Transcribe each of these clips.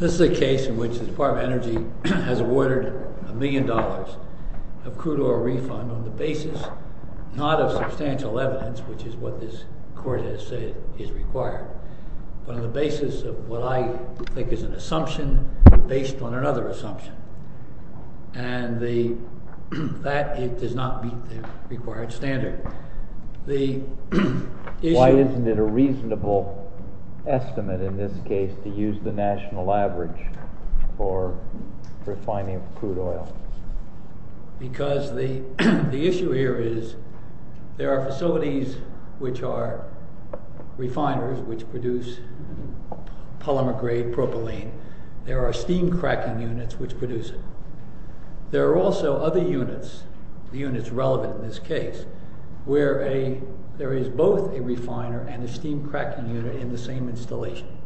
This is a case in which the Department of Energy has awarded a million dollars of crude oil refund on the basis not of substantial evidence, which is what this court has said is required, but on the basis of what I think is an assumption based on another assumption. And that does not meet the required standard. Why isn't it a reasonable estimate in this case to use the national average for refining crude oil? Because the issue here is there are facilities which are refiners which produce polymer grade propylene. There are steam cracking units which produce it. There are also other units, the units relevant in this case, where there is both a refiner and a steam cracking unit in the same installation.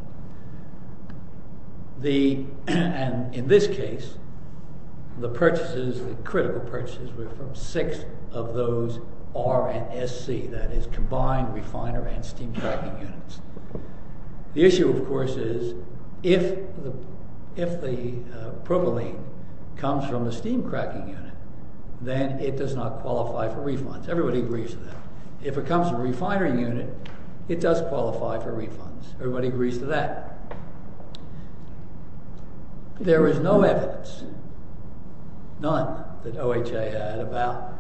In this case, the purchases, the critical purchases were from six of those R&SC, that is combined refiner and steam cracking units. The issue, of course, is if the propylene comes from the steam cracking unit, then it does not qualify for refunds. Everybody agrees to that. If it comes from a refiner unit, it does qualify for refunds. Everybody agrees to that. There is no evidence, none, that OHA had about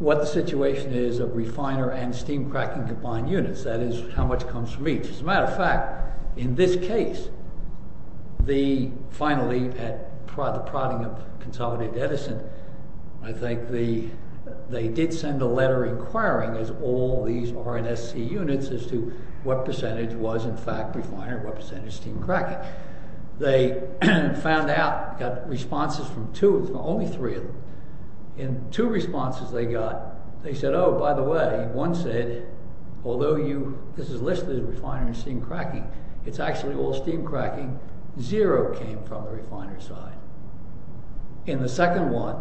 what the situation is of refiner and steam cracking combined units, that is how much comes from each. As a matter of fact, in this case, finally at the prodding of Consolidated Edison, I think they did send a letter inquiring as all these R&SC units as to what percentage was in fact refiner and what percentage steam cracking. They found out, got responses from two, only three of them. In two responses they got, they said, oh, by the way, one said, although this is listed as refiner and steam cracking, it is actually all steam cracking, zero came from the refiner side. In the second one,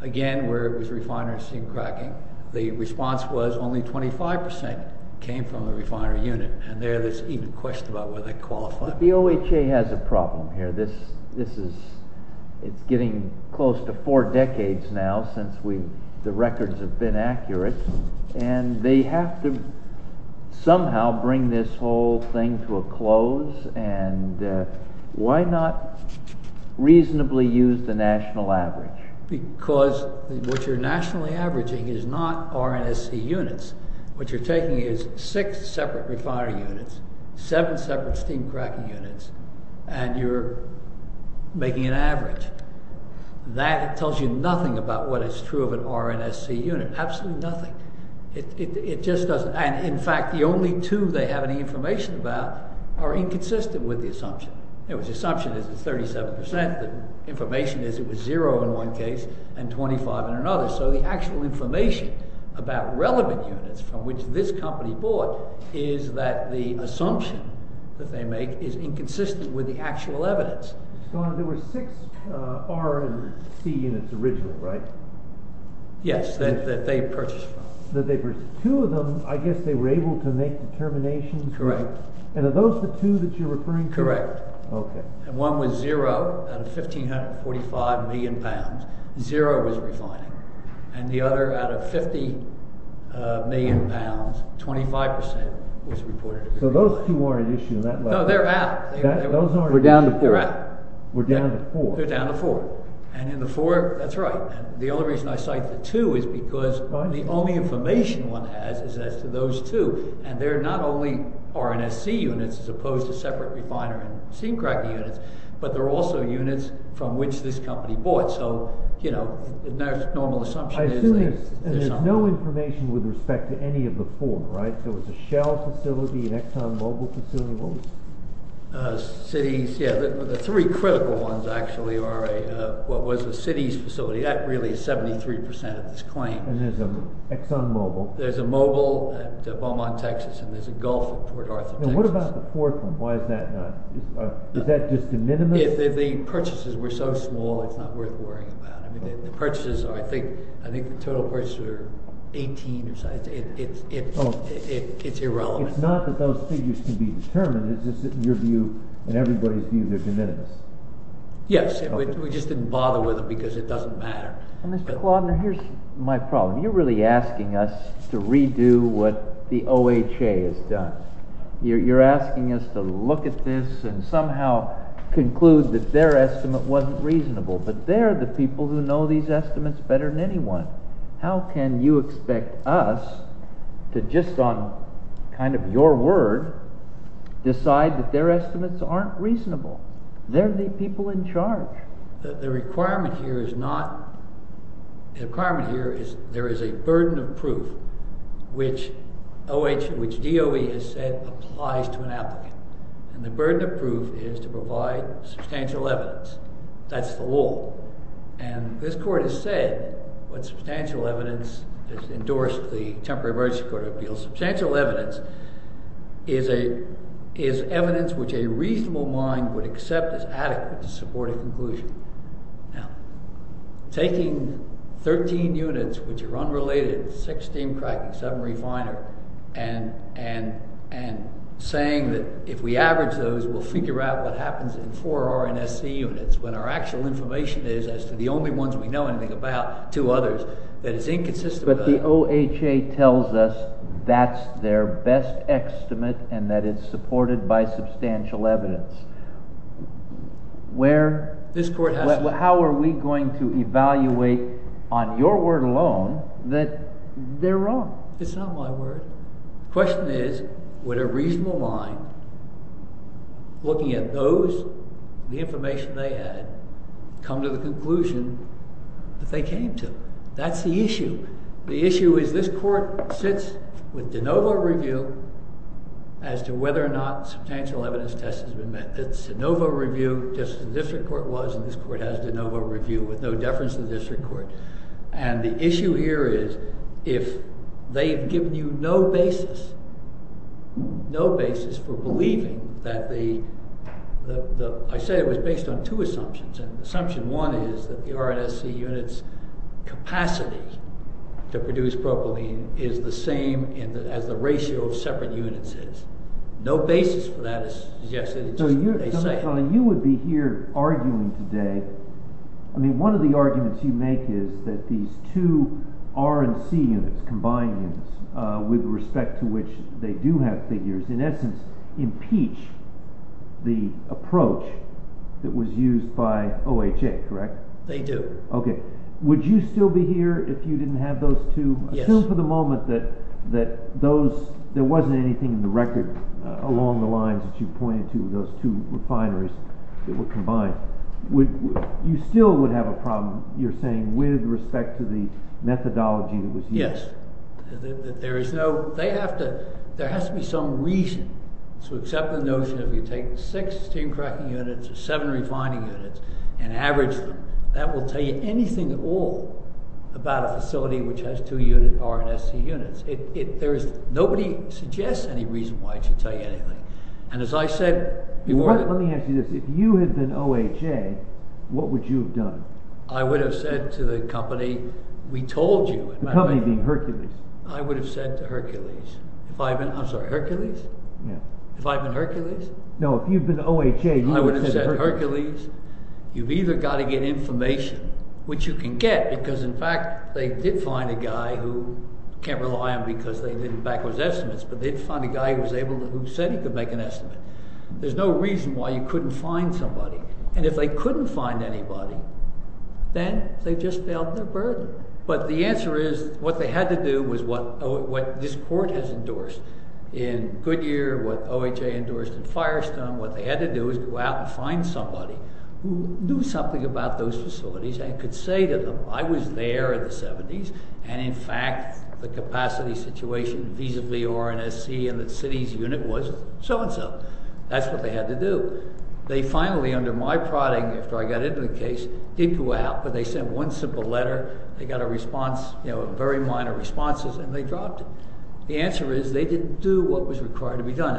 again, where it was refiner and steam cracking, the response was only 25% came from the refiner unit, and there is even question about whether they qualify. The OHA has a problem here. This is getting close to four decades now since the records have been accurate, and they have to somehow bring this whole thing to a close, and why not reasonably use the national average? Because what you are nationally averaging is not R&SC units, what you are taking is six separate refiner units, seven separate steam cracking units, and you are making an average. That tells you nothing about what is true of an R&SC unit, absolutely nothing. It just doesn't. In fact, the only two they have any information about are inconsistent with the assumption. The assumption is it's 37%, the information is it was zero in one case and 25 in another. So the actual information about relevant units from which this company bought is that the assumption that they make is inconsistent with the actual evidence. So there were six R&SC units originally, right? Yes, that they purchased from. Two of them, I guess they were able to make determinations? Correct. And are those the two that you are referring to? Correct. Okay. One was zero out of 1,545 million pounds, zero was refining, and the other out of 50 million pounds, 25% was reported to be refining. So those two weren't an issue in that way? No, they are out. Those aren't an issue? We're down to four. They're out. We're down to four. They're down to four. And in the four, that's right. The only reason I cite the two is because the only information one has is as to those two. And they're not only R&SC units as opposed to separate refiner and seam cracker units, but they're also units from which this company bought. So, you know, the normal assumption is that… I assume there's no information with respect to any of the four, right? There was a Shell facility, an Exxon Mobil facility, what was it? Cities, yeah. The three critical ones, actually, are what was a cities facility. That really is 73% of this claim. And there's an Exxon Mobil. There's a Mobil at Beaumont, Texas, and there's a Gulf at Fort Arthur, Texas. And what about the fourth one? Why is that not… Is that just a minimum? If the purchases were so small, it's not worth worrying about. I mean, the purchases are, I think, the total purchases are 18 or something. It's irrelevant. It's not that those figures can be determined. It's just that in your view and everybody's view, they're de minimis. Yes. We just didn't bother with them because it doesn't matter. Mr. Klaudner, here's my problem. You're really asking us to redo what the OHA has done. You're asking us to look at this and somehow conclude that their estimate wasn't reasonable, but they're the people who know these estimates better than anyone. How can you expect us to just on kind of your word decide that their estimates aren't reasonable? They're the people in charge. The requirement here is not… The requirement here is there is a burden of proof which DOE has said applies to an applicant. And the burden of proof is to provide substantial evidence. That's the rule. And this court has said what substantial evidence has endorsed the Temporary Emergency Court of Appeals. Substantial evidence is evidence which a reasonable mind would accept as adequate to support a conclusion. Now, taking 13 units which are unrelated, 6 steam cracking, 7 refiner, and saying that if we average those, we'll figure out what happens in 4 RNSC units when our actual information is as to the only ones we know anything about, 2 others, that is inconsistent… But the OHA tells us that's their best estimate and that it's supported by substantial evidence. How are we going to evaluate on your word alone that they're wrong? It's not my word. The question is would a reasonable mind looking at those, the information they had, come to the conclusion that they came to? That's the issue. The issue is this court sits with de novo review as to whether or not substantial evidence test has been met. It's de novo review just as the district court was and this court has de novo review with no deference to the district court. And the issue here is if they've given you no basis, no basis for believing that the… I said it was based on 2 assumptions and assumption 1 is that the RNSC units' capacity to produce propylene is the same as the ratio of separate units is. No basis for that is suggested, it's just what they say. You would be here arguing today, I mean one of the arguments you make is that these 2 RNC units, combined units, with respect to which they do have figures, in essence impeach the approach that was used by OHA, correct? They do. Would you still be here if you didn't have those 2? Assume for the moment that there wasn't anything in the record along the lines that you pointed to with those 2 refineries that were combined. You still would have a problem, you're saying, with respect to the methodology that was used? Let me ask you this, if you had been OHA, what would you have done? I would have said to the company, we told you. The company being Hercules? I would have said to Hercules. I'm sorry, Hercules? Yeah. If I've been Hercules? No, if you've been OHA, you would have said to Hercules. I would have said to Hercules, you've either got to get information, which you can get, because in fact they did find a guy who, can't rely on because they didn't back those estimates, but they did find a guy who said he could make an estimate. There's no reason why you couldn't find somebody, and if they couldn't find anybody, then they've just failed their burden. But the answer is, what they had to do was what this court has endorsed in Goodyear, what OHA endorsed in Firestone, what they had to do was go out and find somebody who knew something about those facilities and could say to them, I was there in the 70s, and in fact, the capacity situation visibly R&SC in the city's unit was so and so. That's what they had to do. They finally, under my prodding, after I got into the case, did go out, but they sent one simple letter, they got a response, very minor responses, and they dropped it. The answer is, they didn't do what was required to be done.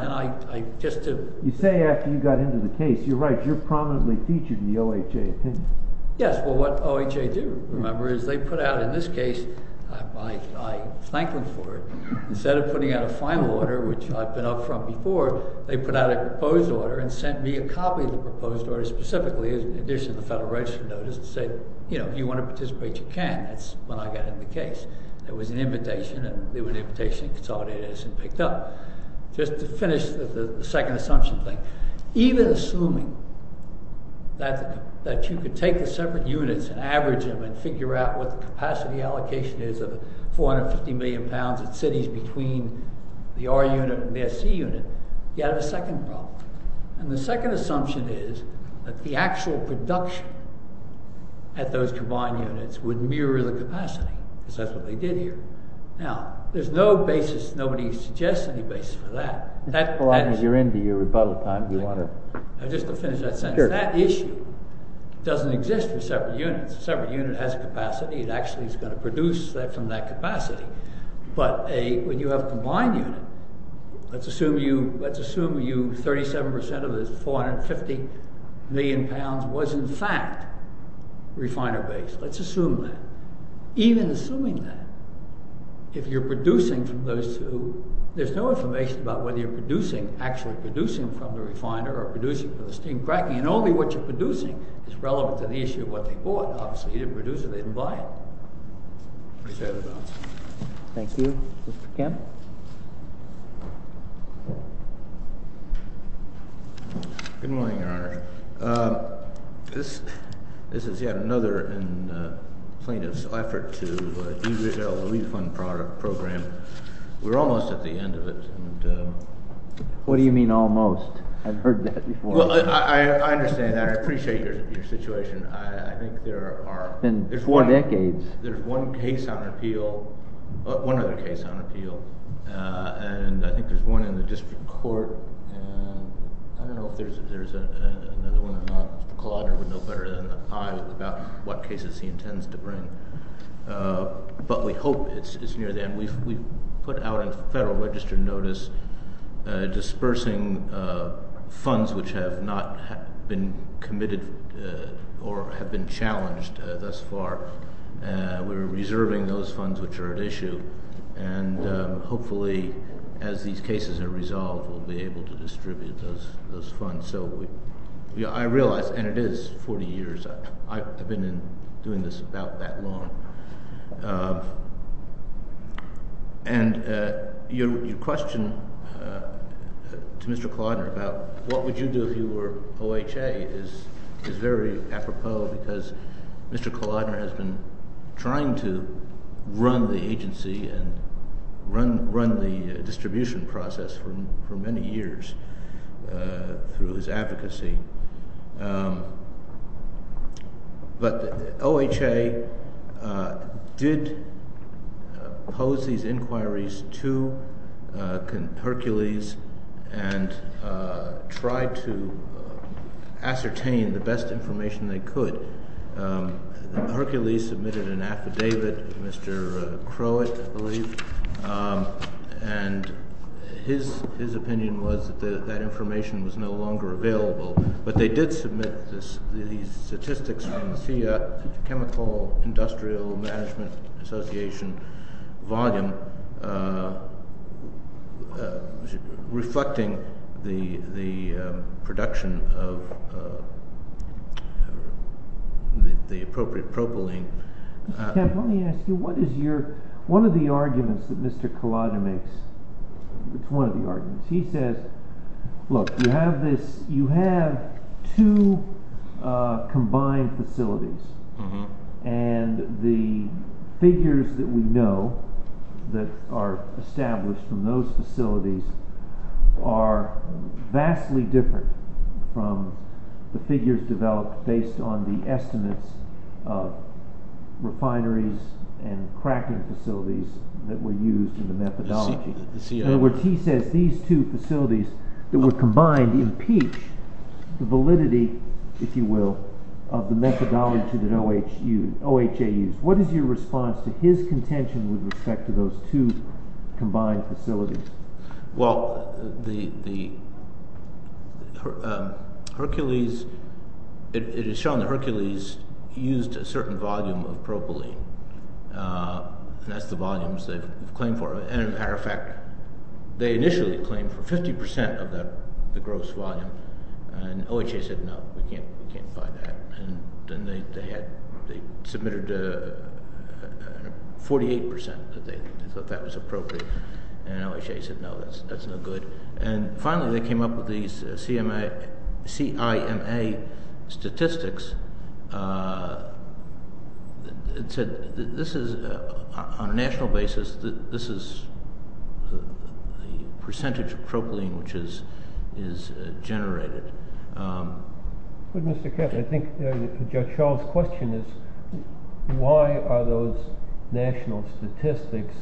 You say after you got into the case, you're right, you're prominently featured in the OHA opinion. Yes, well, what OHA did remember is they put out, in this case, I thanked them for it. Instead of putting out a final order, which I've been up from before, they put out a proposed order and sent me a copy of the proposed order specifically in addition to the Federal Register notice and said, you know, if you want to participate, you can. That's when I got into the case. There was an invitation, and they were an invitation to consolidate it, and it was picked up. Just to finish the second assumption thing. Even assuming that you could take the separate units and average them and figure out what the capacity allocation is of 450 million pounds in cities between the R unit and the SC unit, you have a second problem. The second assumption is that the actual production at those combined units would mirror the capacity, because that's what they did here. Now, there's no basis. Nobody suggests any basis for that. As long as you're into your rebuttal time, you want to… Just to finish that sentence. That issue doesn't exist for separate units. A separate unit has capacity. It actually is going to produce from that capacity. But when you have a combined unit, let's assume you, 37% of it is 450 million pounds was in fact refiner base. Let's assume that. Even assuming that, if you're producing from those two, there's no information about whether you're producing, actually producing from the refiner or producing from the steam cracking. And only what you're producing is relevant to the issue of what they bought. Obviously, you didn't produce it. They didn't buy it. Appreciate it, Your Honor. Thank you. Mr. Kemp? Good morning, Your Honor. This is yet another plaintiff's effort to derail the refund program. We're almost at the end of it. What do you mean almost? I've heard that before. I understand that. I appreciate your situation. I think there are… It's been four decades. There's one case on appeal. One other case on appeal. And I think there's one in the district court. I don't know if there's another one or not. Claude would know better than I about what cases he intends to bring. But we hope it's near the end. We've put out a Federal Register notice dispersing funds which have not been committed or have been challenged thus far. We're reserving those funds which are at issue. Hopefully, as these cases are resolved, we'll be able to distribute those funds. I realize, and it is 40 years. I've been doing this about that long. Your question to Mr. Klaudner about what would you do if you were OHA is very apropos because Mr. Klaudner has been trying to run the agency and run the distribution process for many years through his advocacy. But OHA did pose these inquiries to Hercules and tried to ascertain the best information they could. Hercules submitted an affidavit, Mr. Crowett, I believe. And his opinion was that that information was no longer available. But they did submit these statistics from the Chemical Industrial Management Association volume reflecting the production of the appropriate propylene. Let me ask you, one of the arguments that Mr. Klaudner makes, it's one of the arguments. He says, look, you have two combined facilities. And the figures that we know that are established from those facilities are vastly different from the figures developed based on the estimates of refineries and cracking facilities that were used in the methodology. In other words, he says these two facilities that were combined impeach the validity, if you will, of the methodology that OHA used. What is your response to his contention with respect to those two combined facilities? Well, it is shown that Hercules used a certain volume of propylene. And that's the volumes they've claimed for. And as a matter of fact, they initially claimed for 50 percent of the gross volume. And OHA said, no, we can't buy that. And then they submitted 48 percent that they thought that was appropriate. And OHA said, no, that's no good. And finally, they came up with these CIMA statistics that said this is on a national basis. This is the percentage of propylene which is generated. But, Mr. Kent, I think Judge Schall's question is, why are those national statistics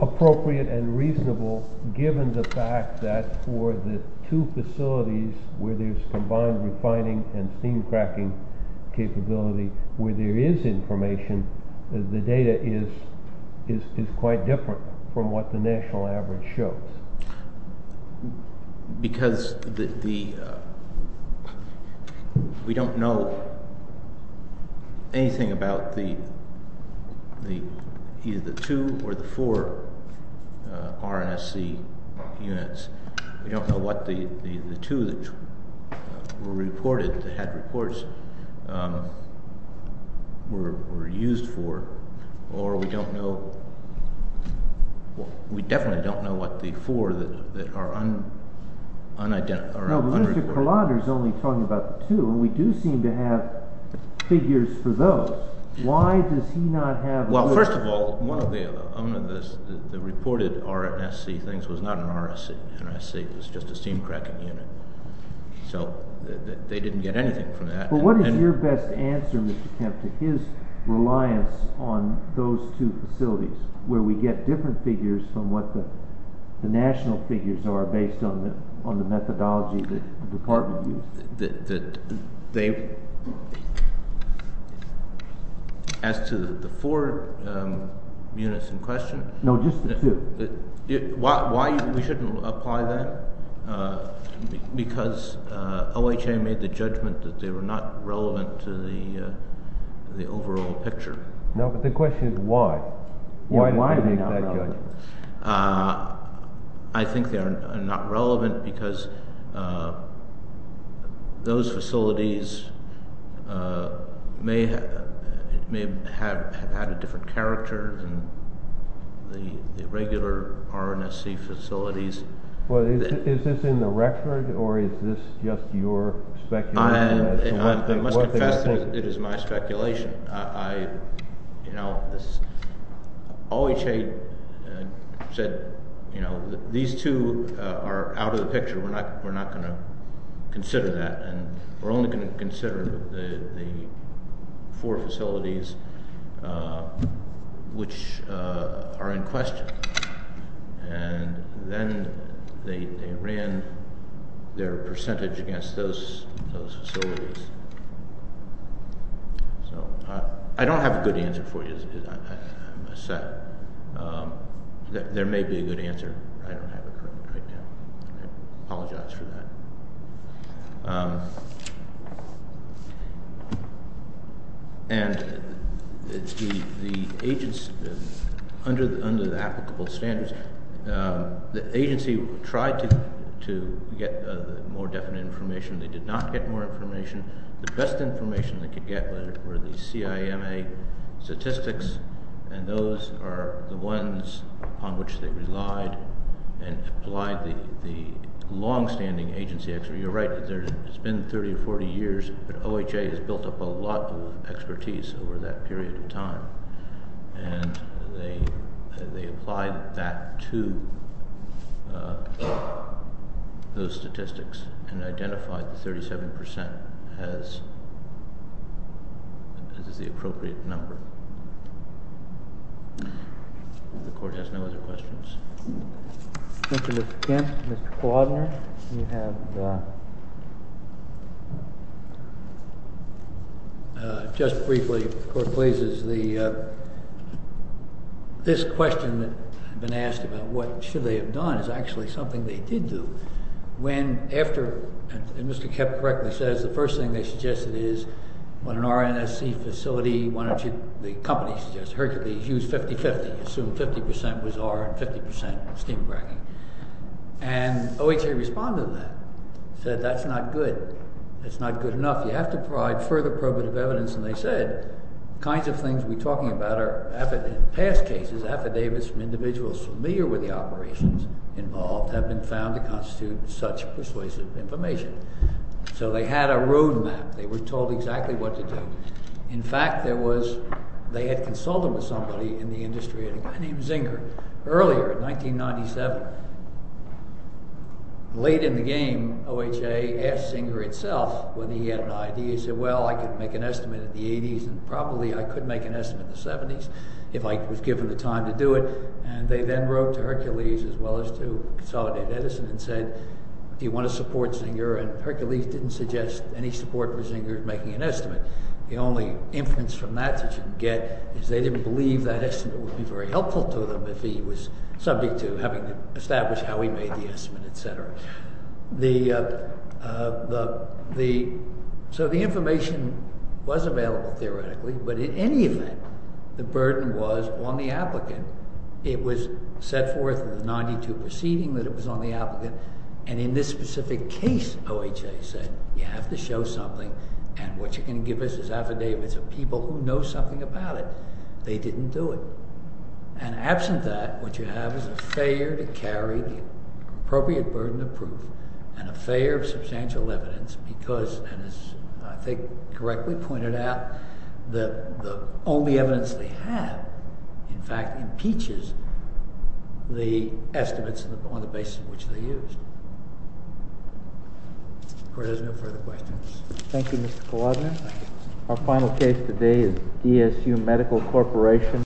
appropriate and reasonable, given the fact that for the two facilities where there's combined refining and steam cracking capability, where there is information, the data is quite different from what the national average shows? Because we don't know anything about either the two or the four RNSC units. We don't know what the two that were reported, that had reports, were used for. Or we don't know, we definitely don't know what the four that are unreported. No, but Mr. Kalander is only talking about the two. And we do seem to have figures for those. Why does he not have? Well, first of all, one of the reported RNSC things was not an RNSC. It was just a steam cracking unit. So they didn't get anything from that. But what is your best answer, Mr. Kent, to his reliance on those two facilities, where we get different figures from what the national figures are based on the methodology that the department used? As to the four units in question? Why we shouldn't apply that? Because OHA made the judgment that they were not relevant to the overall picture. No, but the question is why. Why did they make that judgment? I think they are not relevant because those facilities may have had a different character than the regular RNSC facilities. Well, is this in the record, or is this just your speculation? I must confess that it is my speculation. You know, OHA said, you know, these two are out of the picture. We're not going to consider that. And we're only going to consider the four facilities which are in question. And then they ran their percentage against those facilities. So I don't have a good answer for you. I'm upset. There may be a good answer. I don't have it right now. I apologize for that. And the agency, under the applicable standards, the agency tried to get more definite information. They did not get more information. The best information they could get were the CIMA statistics. And those are the ones upon which they relied and applied the longstanding agency expertise. You're right. It's been 30 or 40 years, but OHA has built up a lot of expertise over that period of time. And they applied that to those statistics and identified the 37% as the appropriate number. The Court has no other questions. Thank you, Mr. Kent. Mr. Quadner, you have? Just briefly, if the Court pleases, this question that I've been asked about what should they have done is actually something they did do. When after—and Mr. Kepp correctly says the first thing they suggested is when an RNSC facility, why don't you—the company suggests Hercules, use 50-50. Assume 50% was R and 50% steam bragging. And OHA responded to that, said that's not good. That's not good enough. You have to provide further probative evidence. And they said the kinds of things we're talking about are in past cases, affidavits from individuals familiar with the operations involved have been found to constitute such persuasive information. So they had a roadmap. They were told exactly what to do. In fact, there was—they had consulted with somebody in the industry, a guy named Zinger, earlier in 1997. Late in the game, OHA asked Zinger itself whether he had an idea. He said, well, I could make an estimate in the 80s and probably I could make an estimate in the 70s if I was given the time to do it. And they then wrote to Hercules as well as to Consolidated Edison and said, do you want to support Zinger? And Hercules didn't suggest any support for Zinger in making an estimate. The only inference from that that you can get is they didn't believe that estimate would be very helpful to them if he was subject to having to establish how he made the estimate, etc. So the information was available theoretically. But in any event, the burden was on the applicant. It was set forth in the 92 proceeding that it was on the applicant. And in this specific case, OHA said, you have to show something. And what you're going to give us is affidavits of people who know something about it. They didn't do it. And absent that, what you have is a failure to carry the appropriate burden of proof and a failure of substantial evidence because, as I think correctly pointed out, the only evidence they have, in fact, impeaches the estimates on the basis of which they used. The court has no further questions. Thank you, Mr. Kaladner. Our final case today is DSU Medical Corporation.